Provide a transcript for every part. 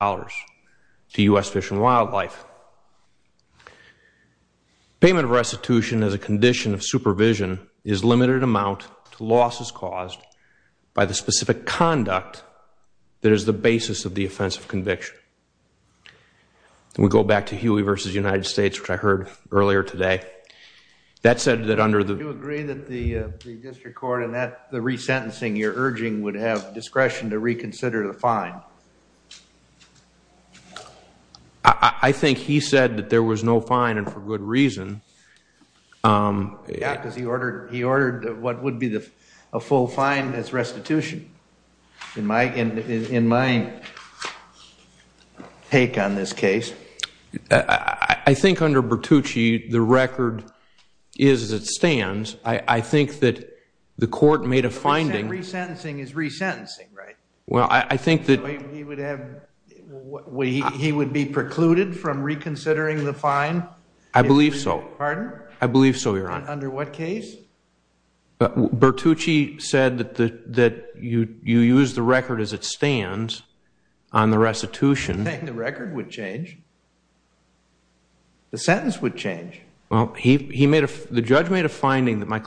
to U.S. Fish and Wildlife. Payment of restitution as a condition of supervision is limited amount to losses caused by the specific conduct that is the basis of the offense of conviction. We go back to Huey v. United States which I heard earlier today. That said that under the... Do you agree that the district court and that the resentencing you're urging would have discretion to reconsider the I think he said that there was no fine and for good reason. Yeah because he ordered he ordered what would be the full fine as restitution in my take on this case. I think under Bertucci the record is as it stands. I think that the court made a finding. Resentencing is resentencing right? Well I think that he would be precluded from reconsidering the fine? I believe so. Pardon? I believe so your honor. Under what case? Bertucci said that that you you use the record as it stands on the restitution. I think the record would change. The sentence would change. Well he made a the judge made a finding that my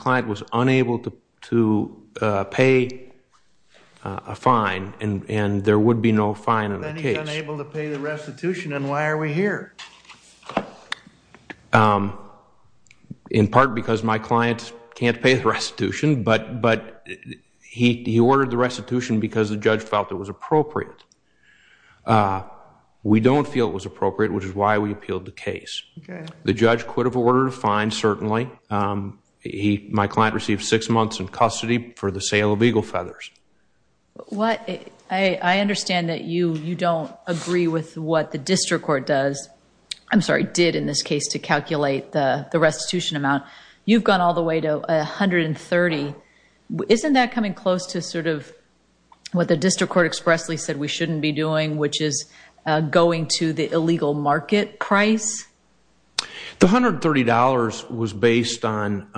there would be no fine in the case. Then he's unable to pay the restitution and why are we here? In part because my clients can't pay the restitution but but he ordered the restitution because the judge felt it was appropriate. We don't feel it was appropriate which is why we appealed the case. The judge could have ordered a fine certainly. My client received six months in custody for the sale of I understand that you you don't agree with what the district court does. I'm sorry did in this case to calculate the the restitution amount. You've gone all the way to a hundred and thirty. Isn't that coming close to sort of what the district court expressly said we shouldn't be doing which is going to the illegal market price? The hundred thirty dollars was based on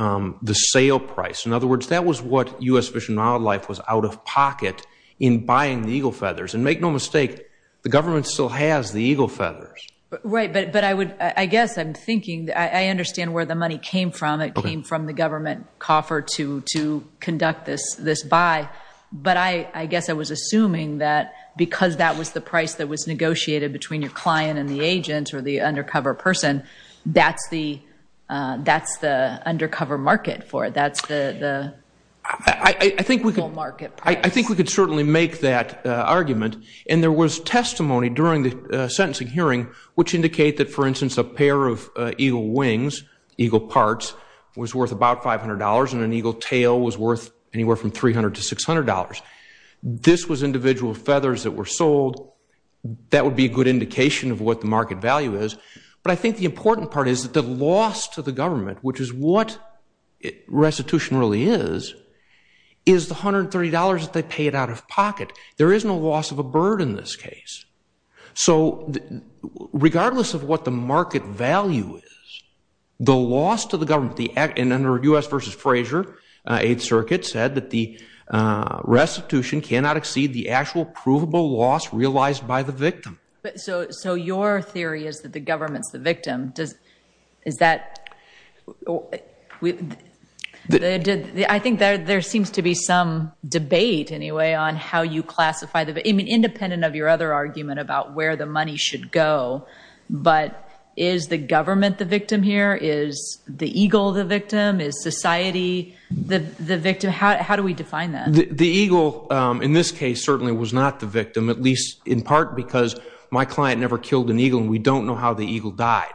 the sale price. In other words that was what US Fish and Wildlife was out of pocket in buying the eagle feathers and make no mistake the government still has the eagle feathers. Right but but I would I guess I'm thinking I understand where the money came from. It came from the government coffer to to conduct this this buy but I I guess I was assuming that because that was the price that was negotiated between your client and the agent or the undercover person that's the that's the undercover market for it. That's the I think we could market I think we could certainly make that argument and there was testimony during the sentencing hearing which indicate that for instance a pair of eagle wings, eagle parts was worth about five hundred dollars and an eagle tail was worth anywhere from three hundred to six hundred dollars. This was individual feathers that were sold. That would be a good indication of what the market value is but I think the important part is that the loss to the government which is what restitution really is, is the hundred thirty dollars that they paid out of pocket. There is no loss of a bird in this case. So regardless of what the market value is the loss to the government the act and under US versus Frazier 8th Circuit said that the restitution cannot exceed the actual provable loss realized by the victim. But so so your theory is that the government's the victim does is that I think there seems to be some debate anyway on how you classify the independent of your other argument about where the money should go but is the government the victim here? Is the eagle the victim? Is society the victim? How do we define that? The eagle in this case certainly was not the victim at least in part because my client never killed an eagle and we don't know how the eagle died.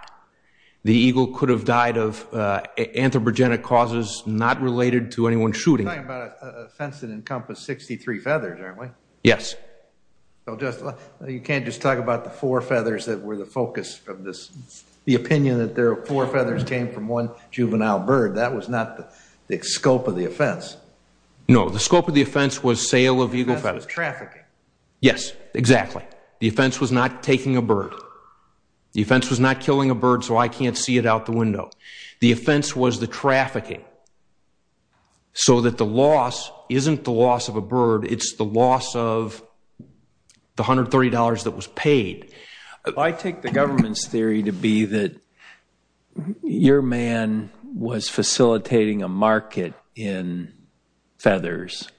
The eagle could have died of anthropogenic causes not related to anyone shooting. You're talking about an offense that encompassed 63 feathers aren't we? Yes. Well just you can't just talk about the four feathers that were the focus of this the opinion that there are four feathers came from one juvenile bird that was not the scope of the offense. No the scope of the offense was sale of eagle feathers. The offense was trafficking. Yes exactly. The offense was not taking a bird. The offense was not killing a bird so I can't see it out the window. The offense was the trafficking. So that the loss isn't the loss of a bird it's the loss of the $130 that was paid. I take the government's theory to be that your man was facilitating a market in feathers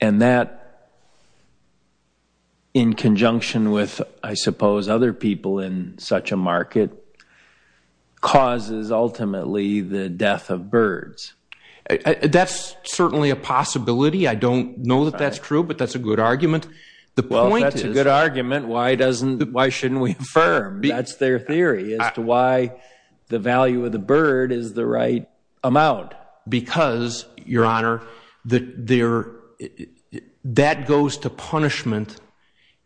and that in conjunction with I suppose other people in such a market causes ultimately the death of birds. That's certainly a possibility. I don't know that that's true but that's a good argument. The point is... Well if that's a good argument why doesn't why shouldn't we affirm? That's their theory as to why the value of the bird is the right amount. Because your honor that there that goes to punishment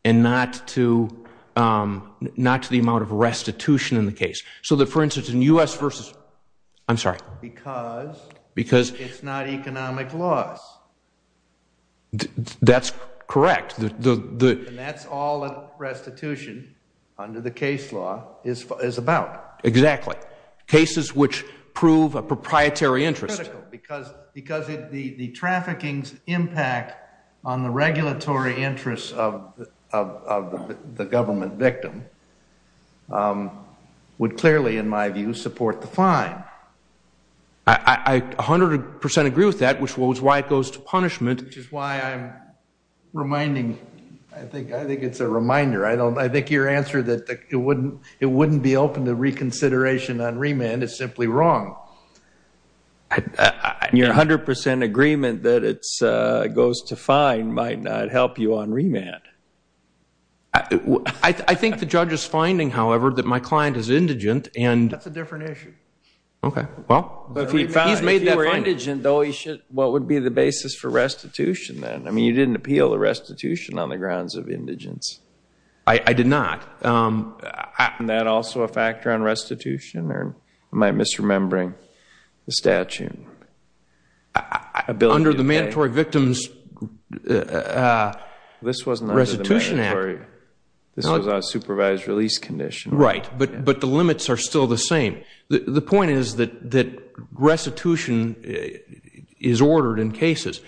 and not to not to the amount of restitution in the case. So that for instance in U.S. versus I'm sorry. Because it's not economic loss. That's correct. That's all restitution under the case law is about. Exactly. Cases which prove a proprietary interest. Because the trafficking's impact on the regulatory interest of the government victim would clearly in my view support the fine. I 100% agree with that which was why it goes to punishment. Which is why I'm reminding I think I think it's a reminder. I don't I think your answer that it wouldn't it your 100% agreement that it goes to fine might not help you on remand. I think the judge is finding however that my client is indigent and... That's a different issue. Okay well. He's made that indigent though he should what would be the basis for restitution then? I mean you didn't appeal the restitution on the grounds of indigence. I did not. Isn't that also a factor on restitution or am I misremembering the statute? Under the Mandatory Victims Restitution Act. This wasn't under the Mandatory. This was a supervised release condition. Right but but the limits are still the same. The point is that that restitution is ordered in cases.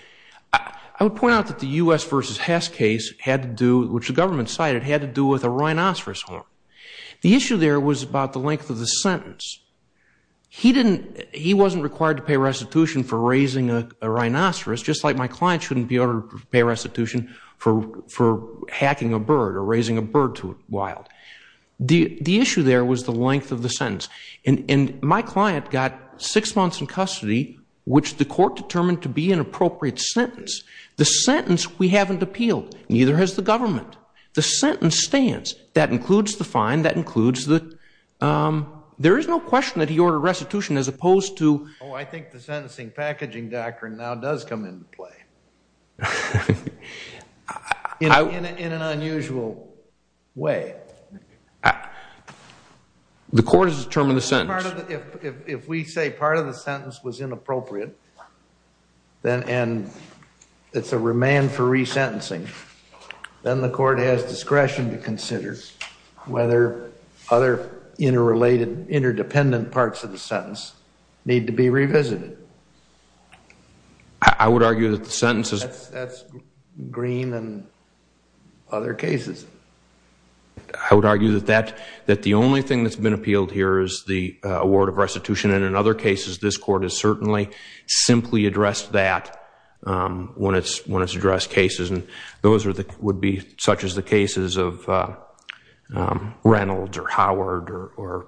I would point out that the U.S. versus Hess case had to do which the government cited had to do with a rhinoceros horn. The issue there was about the length of the sentence. He didn't he wasn't required to pay restitution for raising a rhinoceros just like my client shouldn't be able to pay restitution for for hacking a bird or raising a bird to wild. The the issue there was the length of the sentence. And my client got six months in custody which the court determined to be an appropriate sentence. The sentence we haven't appealed. Neither has the government. The sentence stands. That includes the fine. That includes the there is no question that he ordered restitution as opposed to. Oh I think the sentencing packaging doctrine now does come into play. In an unusual way. The court has determined the sentence. If we say part of the sentence was inappropriate then and it's a remand for resentencing. Then the court has discretion to interrelated interdependent parts of the sentence need to be revisited. I would argue that the sentence is. That's Green and other cases. I would argue that that that the only thing that's been appealed here is the award of restitution and in other cases this court has certainly simply addressed that when it's when it's addressed cases. And those are the would be such as the cases of Reynolds or Howard or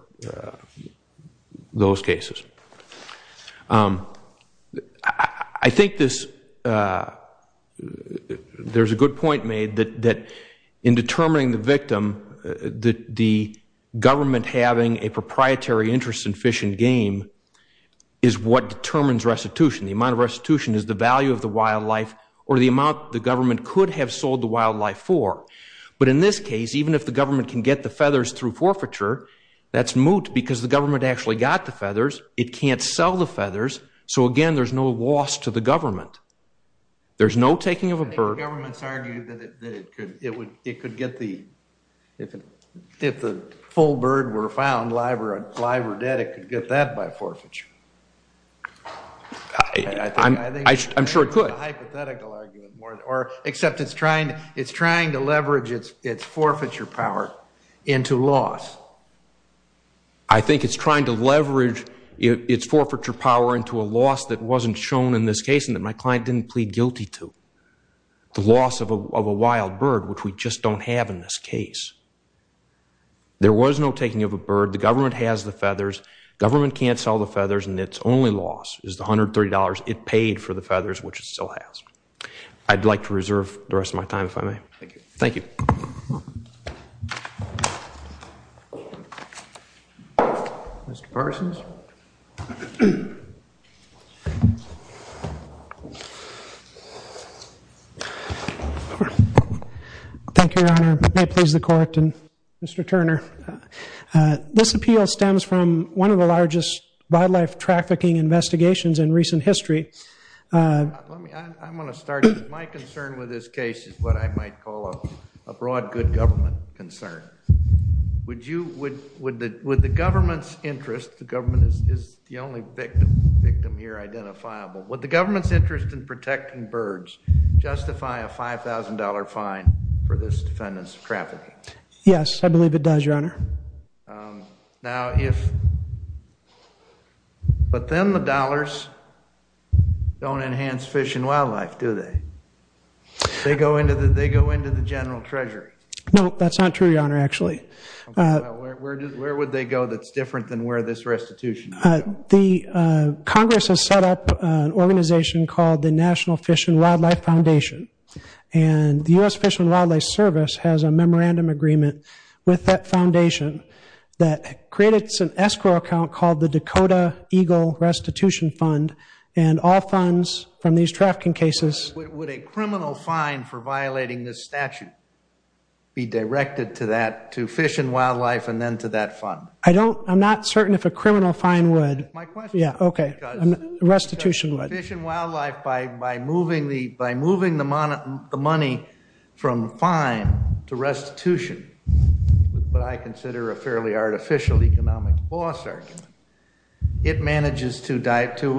those cases. I think this there's a good point made that that in determining the victim that the government having a proprietary interest in fish and game is what determines restitution. The amount of restitution is the value of the wildlife or the amount the government could have sold the wildlife for. But in this case even if the government can get the feathers through forfeiture that's moot because the government actually got the feathers. It can't sell the feathers. So again there's no loss to the government. There's no taking of a bird. I think the government's argued that it could get the if the full bird were found live or dead it could get that by forfeiture. I'm sure it could. Except it's trying it's trying to leverage it's it's forfeiture power into loss. I think it's trying to leverage its forfeiture power into a loss that wasn't shown in this case and that my client didn't plead guilty to. The loss of a wild bird which we just don't have in this case. There was no taking of a bird. The government has the feathers. Government can't sell the feathers and it's only loss is the $130 it paid for the feathers which it still has. I'd like to reserve the rest of my time if I may. Thank you. Thank you. Mr. Parsons. Thank you your honor. May it please the court and Mr. Turner. This appeal stems from one of the largest wildlife trafficking investigations in recent history. I'm going to start. My concern with this case is what I might call a broad good government concern. Would the government's interest, the government is the only victim here identifiable. Would the government's interest in protecting birds justify a $5,000 fine for this defendant's trafficking? Yes, I believe it does your honor. Now if, but then the dollars don't enhance fish and wildlife do they? They go into the general treasury. No, that's not true your honor actually. Where would they go that's different than where this restitution would go? Congress has set up an organization called the National Fish and Wildlife Foundation. And the U.S. Fish and Wildlife Service has a memorandum agreement with that foundation that created an escrow account called the Dakota Eagle Restitution Fund and all funds from these trafficking cases. Would a criminal fine for violating this statute be directed to that, to fish and wildlife and then to that fund? I don't, I'm not certain if a criminal fine would. My question is because restitution would. Fish and wildlife by moving the money from fine to restitution is what I consider a fairly artificial economic loss argument. It manages to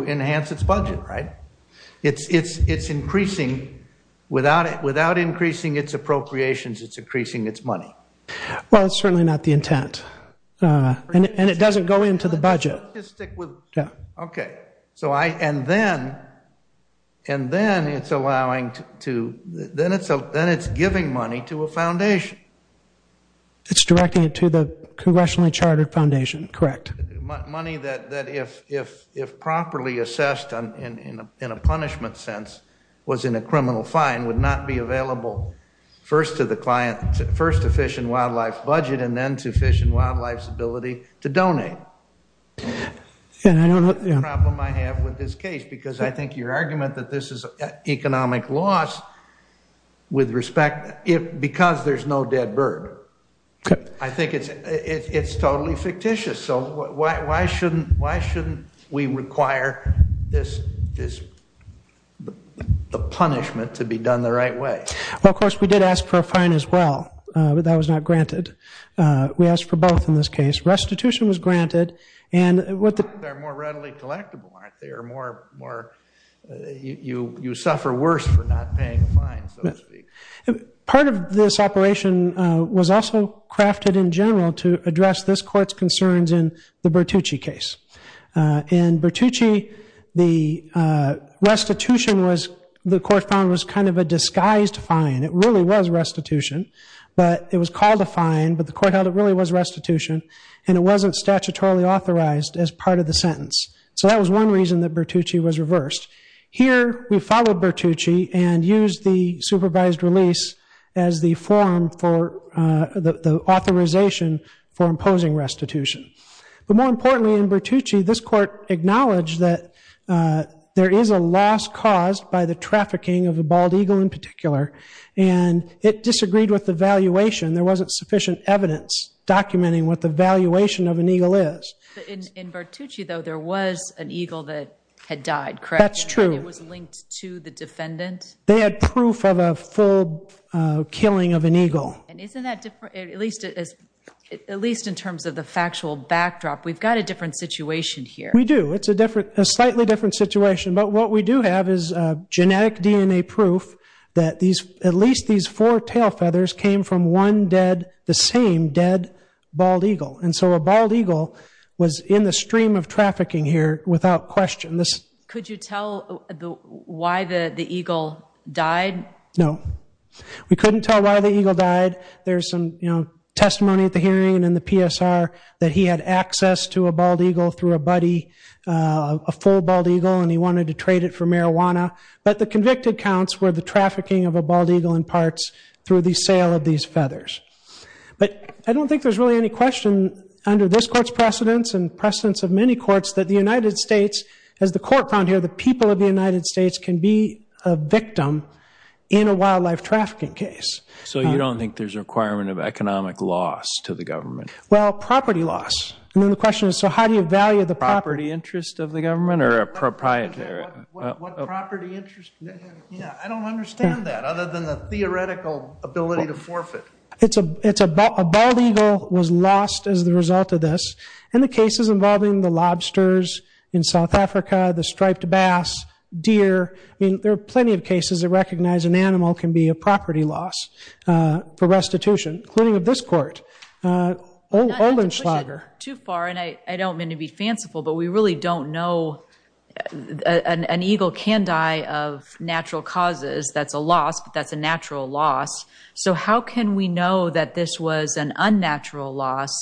enhance its budget right? It's increasing without increasing its appropriations it's increasing its money. Well it's certainly not the intent. And it doesn't go into the budget. Okay, so I, and then and then it's allowing to, then it's giving money to a foundation. It's directing it to the congressionally chartered foundation, correct. Money that if properly assessed in a punishment sense was in a criminal fine would not be available first to the client first to Fish and Wildlife's budget and then to Fish and Wildlife's ability to donate. And I don't know the problem I have with this case because I think your argument that this is economic loss with respect, because there's no dead bird I think it's totally fictitious so why shouldn't we require this the punishment to be done the right way? Well of course we did ask for a fine as well. That was not granted. We asked for both in this case. Restitution was granted They're more readily collectible aren't they? You suffer worse for not paying a fine so to speak. Part of this operation was also crafted in general to address this court's concerns in the Bertucci case. In Bertucci the restitution was the court found was kind of a disguised fine. It really was restitution but it was called a fine but the court held it really was restitution and it wasn't statutorily authorized as part of the sentence. So that was one reason that Bertucci was reversed. Here we followed Bertucci and used the supervised release as the form for the authorization for imposing restitution. But more importantly in Bertucci this court acknowledged that there is a loss caused by the trafficking of a bald eagle in particular and it disagreed with the valuation. There wasn't sufficient evidence documenting what the valuation of an eagle is. In Bertucci though there was an eagle that had died correct? It was linked to the defendant? They had proof of a full killing of an eagle. At least in terms of the factual backdrop we've got a different situation here. We do. It's a slightly different situation but what we do have is genetic DNA proof that at least these four tail feathers came from one dead, the same dead bald eagle. And so a bald eagle was in the stream of trafficking here without question. Could you tell why the eagle died? No. We couldn't tell why the eagle died. There's some testimony at the hearing and in the PSR that he had access to a bald eagle through a buddy, a full bald eagle and he wanted to trade it for marijuana. But the convicted counts were the trafficking of a bald eagle in parts through the sale of these feathers. But I don't think there's really any question under this court's precedence and precedence of many courts that the United States, as the court found here, the people of the United States can be a victim in a wildlife trafficking case. So you don't think there's a requirement of economic loss to the government? Well, property loss. And then the question is so how do you value the property interest of the property interest? I don't understand that other than the theoretical ability to forfeit. It's a bald eagle was lost as the result of this. And the cases involving the lobsters in South Africa, the striped bass, deer, there are plenty of cases that recognize an animal can be a property loss for restitution, including of this court. Not to push it too far, and I don't mean to be fanciful, but we really don't know an eagle can die of natural causes that's a loss, but that's a natural loss. So how can we know that this was an unnatural loss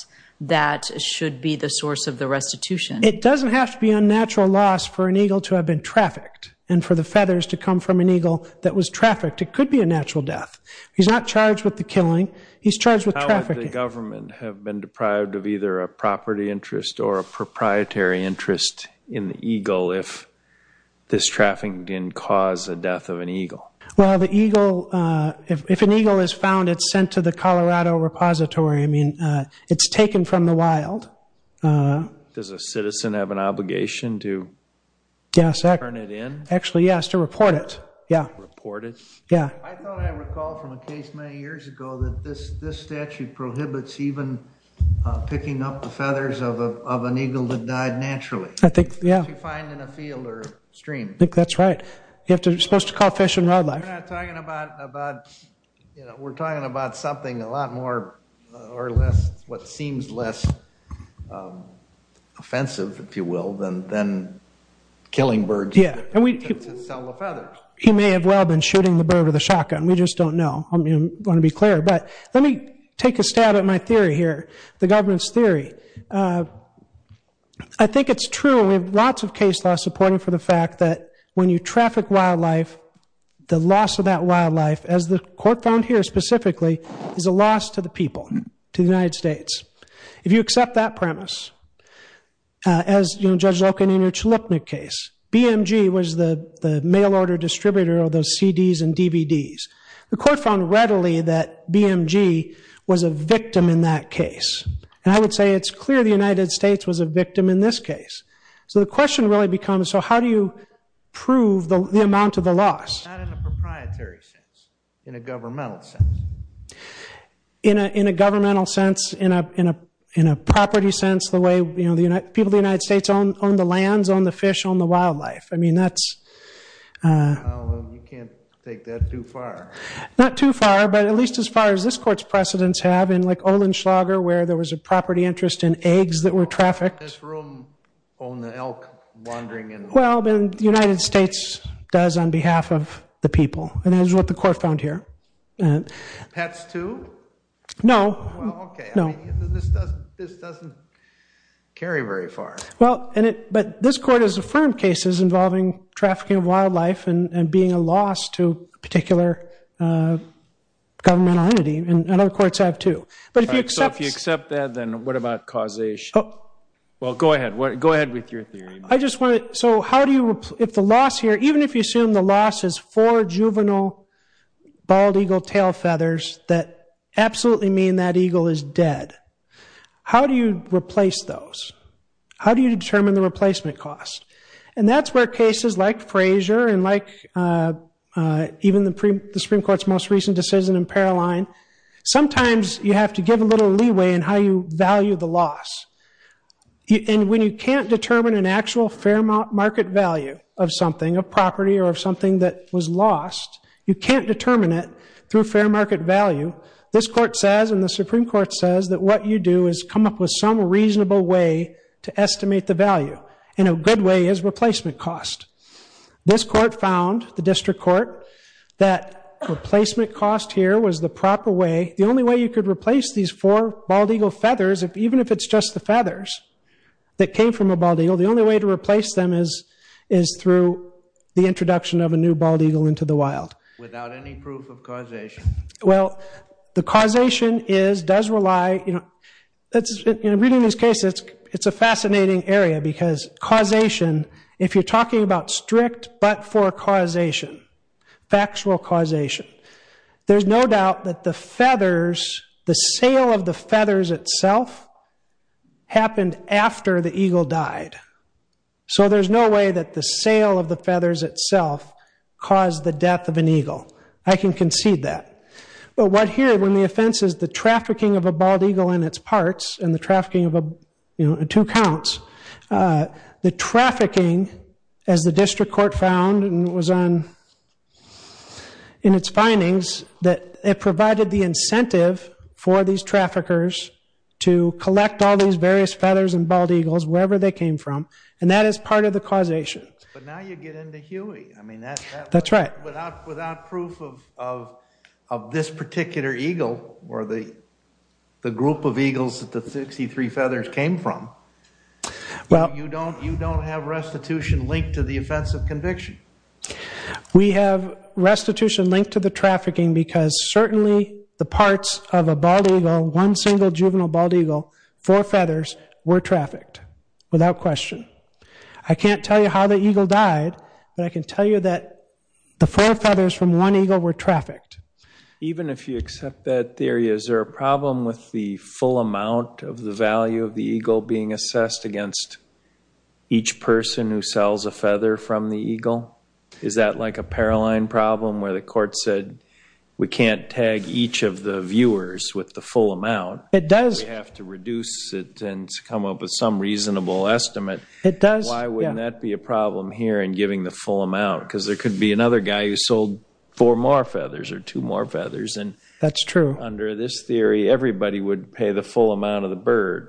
that should be the source of the restitution? It doesn't have to be unnatural loss for an eagle to have been trafficked, and for the feathers to come from an eagle that was trafficked. It could be a natural death. He's not charged with the killing, he's charged with trafficking. How would the government have been deprived of either a property interest or a proprietary interest in the eagle if this trafficking didn't cause the death of an eagle? Well, the eagle, if an eagle is found, it's sent to the Colorado Repository. I mean, it's taken from the wild. Does a citizen have an obligation to turn it in? Actually, yes, to report it. Report it? Yeah. I thought I recalled from a case many years ago that this statute prohibits even picking up the feathers of an eagle that died naturally. If you find in a field or stream. I think that's right. You're supposed to call fish and wildlife. We're talking about something a lot more or less, what seems less offensive, if you will, than killing birds to sell the feathers. He may have well been shooting the bird with a shotgun. We just don't know. I want to be clear. But let me take a stab at my theory here. The government's theory. I think it's true we have lots of case law supporting for the fact that when you traffic wildlife the loss of that wildlife, as the court found here specifically, is a loss to the people, to the United States. If you accept that premise, as Judge Loken in your Chalupnik case, BMG was the mail order distributor of those CDs and DVDs. The court found readily that BMG was a victim in that case. I would say it's clear the United States was a victim in this case. So the question really becomes, so how do you prove the amount of the loss? Not in a proprietary sense. In a governmental sense. In a governmental sense, in a property sense, the way people of the United States own the lands, own the fish, own the wildlife. You can't take that too far. Not too far, but at least as far as this court's precedence have in like Ohlenschlager, where there was a property interest in eggs that were trafficked. This room owned the elk wandering in. Well, the United States does on behalf of the people. And that is what the court found here. Pets too? No. This doesn't carry very far. This court has affirmed cases involving trafficking of wildlife and being a loss to a particular governmental entity. And other courts have too. So if you accept that, then what about causation? Well, go ahead. Go ahead with your theory. Even if you assume the loss is four juvenile bald eagle tail feathers that absolutely mean that eagle is dead. How do you replace those? How do you determine the replacement cost? And that's where cases like Frazier and like even the Supreme Court's most recent decision in Paroline, sometimes you have to give a little leeway in how you value the loss. And when you can't determine an actual fair market value of something, of property or of something that was lost, you can't determine it through fair market value. This court says, and the Supreme Court says, that what you do is come up with some reasonable way to estimate the value. And a good way is replacement cost. This court found the district court that replacement cost here was the proper way, the only way you could replace these four bald eagle feathers, even if it's just the feathers that came from a bald eagle, the only way to replace them is through the introduction of a new bald eagle into the wild. Without any proof of causation? Well, the causation is, does rely, you know, reading this case, it's a fascinating area because causation, if you're talking about strict but-for causation, factual causation, there's no doubt that the feathers, the sale of the feathers itself, happened after the eagle died. So there's no way that the sale of the feathers itself caused the death of an eagle. I can concede that. But what here, when the offense is the trafficking of a bald eagle and its parts, and the trafficking of a, you know, two counts, the trafficking, as the district court found, and it was on in its findings, that it provided the incentive for these traffickers to collect all these various feathers and bald eagles, wherever they came from, and that is part of the causation. But now you get into Huey. I mean, that's right. Without proof of this particular eagle or the group of eagles that the 63 feathers came from, you don't have restitution linked to the offense of conviction. We have restitution linked to the trafficking because certainly the parts of a bald eagle, one single juvenile bald eagle, four feathers, were trafficked. Without question. I can't tell you how the eagle died, but I can tell you that the four feathers from one eagle were trafficked. Even if you accept that theory, is there a problem with the full amount of the value of the eagle being assessed against each person who sells a feather from the eagle? Is that like a Paroline problem where the court said we can't tag each of the viewers with the full amount? It does. We have to reduce it and come up with some reasonable estimate. It does. Why wouldn't that be a problem here in giving the full amount? Because there could be another guy who sold four more feathers or two more feathers. That's true. Under this theory, everybody would pay the full amount of the bird.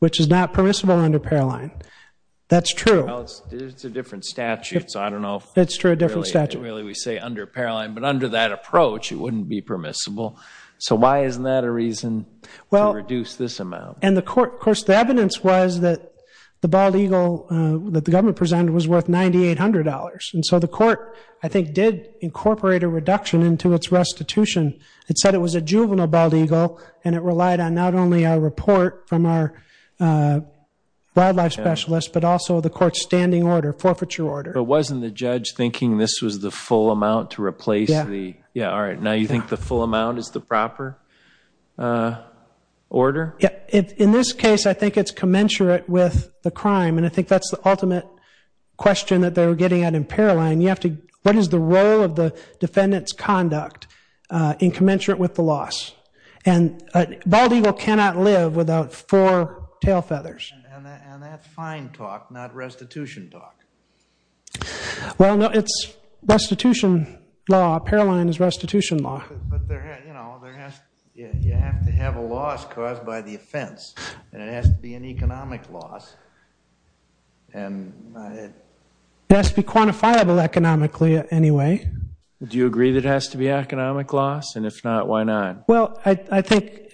Which is not permissible under Paroline. That's true. It's a different statute, so I don't know if really we say under Paroline. But under that approach, it wouldn't be permissible. So why isn't that a reason to reduce this amount? The evidence was that the bald eagle that the government presented was worth $9,800. And so the court, I think, did incorporate a reduction into its restitution. It said it was a juvenile bald eagle and it relied on not only a report from our wildlife specialist but also the court's standing order, forfeiture order. But wasn't the judge thinking this was the full amount to replace the... Yeah. Alright, now you think the full amount is the proper order? In this case, I think it's commensurate with the crime. And I think that's the ultimate question that they were getting at in Paroline. What is the role of the defendant's conduct in commensurate with the loss? And a bald eagle cannot live without four tail feathers. And that's fine talk, not restitution talk. Well, no, it's restitution law. Paroline is restitution law. But, you know, you have to have a loss caused by the offense. And it has to be an economic loss. And... It has to be quantifiable economically anyway. Do you agree that it has to be an economic loss? And if not, why not? Well, I think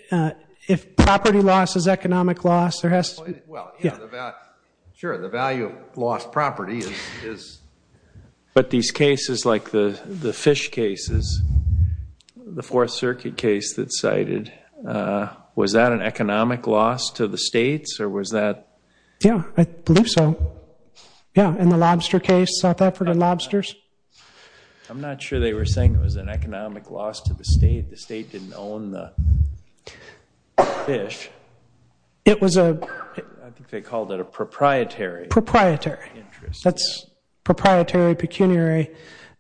if property loss is economic loss, there has to be... Well, yeah, the value of lost property is... But these cases like the fish cases, the Fourth Circuit case that's cited, was that an economic loss to the states, or was that... Yeah, I believe so. Yeah, in the lobster case, South Effort and lobsters. I'm not sure they were saying it was an economic loss to the state. The state didn't own the fish. It was a... I think they called it a proprietary... Proprietary. That's proprietary, pecuniary.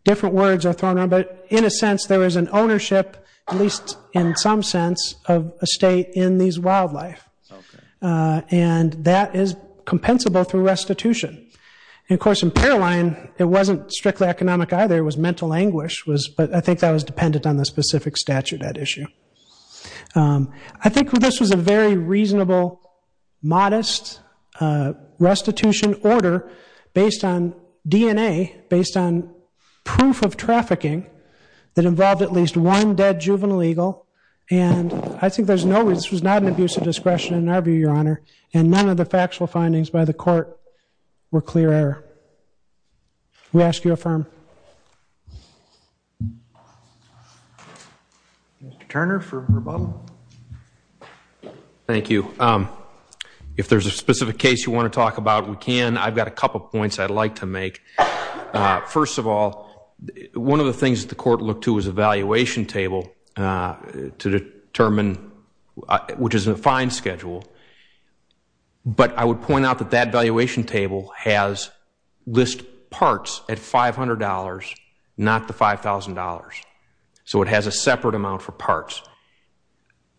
Different words are thrown around, but in a sense, there is an ownership, at least in some sense, of a state in these wildlife. And that is compensable through restitution. And of course, in Paroline, it wasn't strictly economic either. It was mental anguish. But I think that was dependent on the specific statute at issue. I think this was a very reasonable, modest restitution order based on DNA, based on proof of trafficking that involved at least one dead juvenile eagle. And I think there's no... This was not an abuse of discretion in our view, Your Honor. And none of the factual findings by the court were clear error. We ask you affirm. Mr. Turner for rebuttal. Thank you. If there's a specific case you want to talk about, we can. I've got a couple points I'd like to make. First of all, one of the things that the court looked to was to determine, which is a fine schedule, but I would point out that that valuation table has list parts at $500, not the $5,000. So it has a separate amount for parts.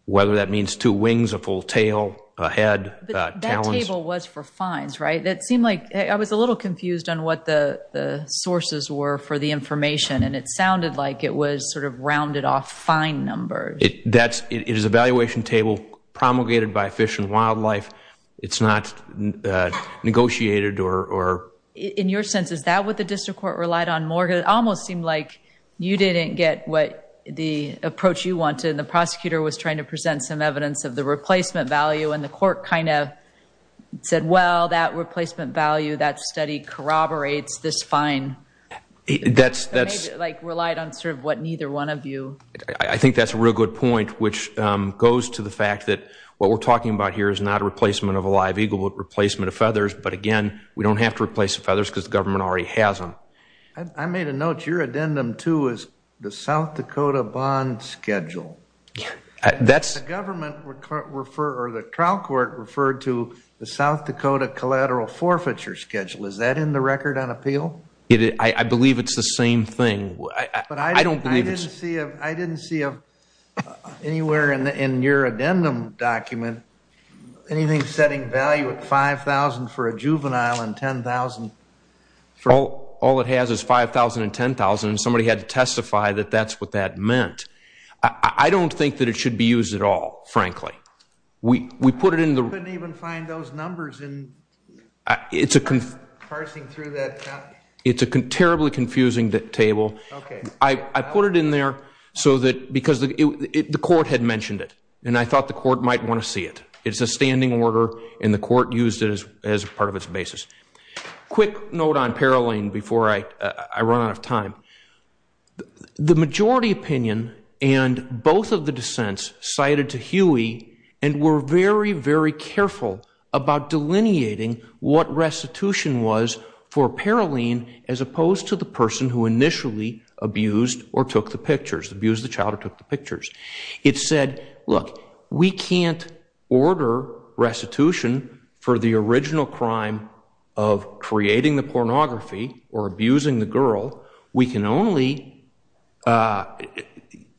Whether that means two wings, a full tail, a head, talons. That table was for fines, right? That seemed like... I was a little confused on what the sources were for the information. And it sounded like it was sort of rounded off fine numbers. It is a valuation table promulgated by Fish and Wildlife. It's not negotiated or... In your sense, is that what the district court relied on more? It almost seemed like you didn't get what the approach you wanted and the prosecutor was trying to present some evidence of the replacement value and the court kind of said, well, that replacement value that study corroborates this fine... Like relied on sort of what neither one of you... I think that's a real good point, which goes to the fact that what we're talking about here is not a replacement of a live eagle, but a replacement of feathers. But again, we don't have to replace the feathers because the government already has them. I made a note, your addendum too is the South Dakota bond schedule. That's... The government referred, or the trial court referred to the South Dakota collateral forfeiture schedule. Is that in the record on appeal? I believe it's the same thing. I didn't see anywhere in your addendum document anything setting value at $5,000 for a juvenile and $10,000 for... All it has is $5,000 and $10,000 and somebody had to testify that that's what that meant. I don't think that it should be used at all, frankly. We put it in the... I couldn't even find those numbers in... It's a... Parsing through that... It's a terribly confusing table. I put it in there so that... Because the court had mentioned it and I thought the court might want to see it. It's a standing order and the court used it as part of its basis. Quick note on Paroline before I run out of time. The majority opinion and both of the dissents cited to Huey and were very, very careful about delineating what restitution was for Paroline as opposed to the person who initially abused or took the pictures. Abused the child or took the pictures. It said, look, we can't order restitution for the original crime of creating the pornography or abusing the girl. We can only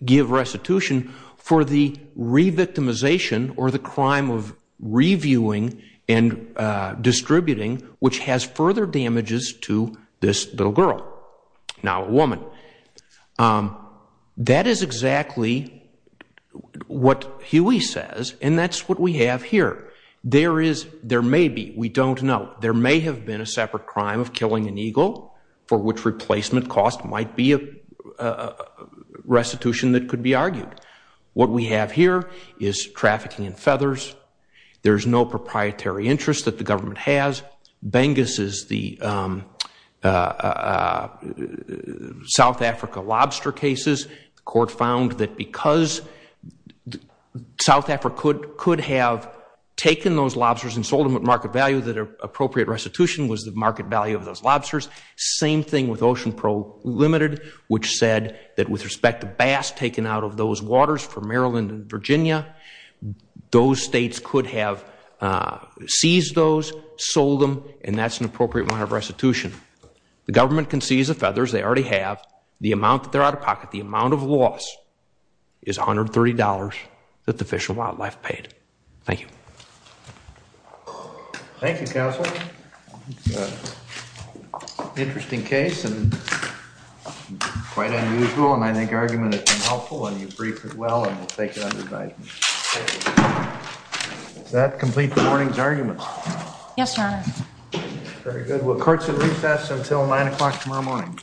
give restitution for the re-victimization or the crime of reviewing and distributing which has further damages to this little girl. Now a woman. That is exactly what Huey says and that's what we have here. There is... There may be. We don't know. There may have been a separate crime of killing an eagle for which replacement cost might be a restitution that could be argued. What we have here is trafficking in feathers. There's no proprietary interest that the government has. Bengus is the South Africa lobster cases. The court found that because South Africa could have taken those lobsters and sold them at market value that appropriate restitution was the market value of those lobsters. Same thing with Ocean Pro Limited which said that with respect to bass taken out of those waters for Maryland and Virginia those states could have seized those sold them and that's an appropriate amount of restitution. The government can seize the feathers. They already have. The amount that they're out of pocket, the amount of loss is $130 that the Fish and Wildlife paid. Thank you. Thank you, Counsel. Interesting case and quite unusual and I think your argument has been helpful and you briefed it well and we'll take it under guidance. Thank you. Does that complete the morning's argument? Yes, Your Honor. Very good. Will courts recess until 9 o'clock tomorrow morning?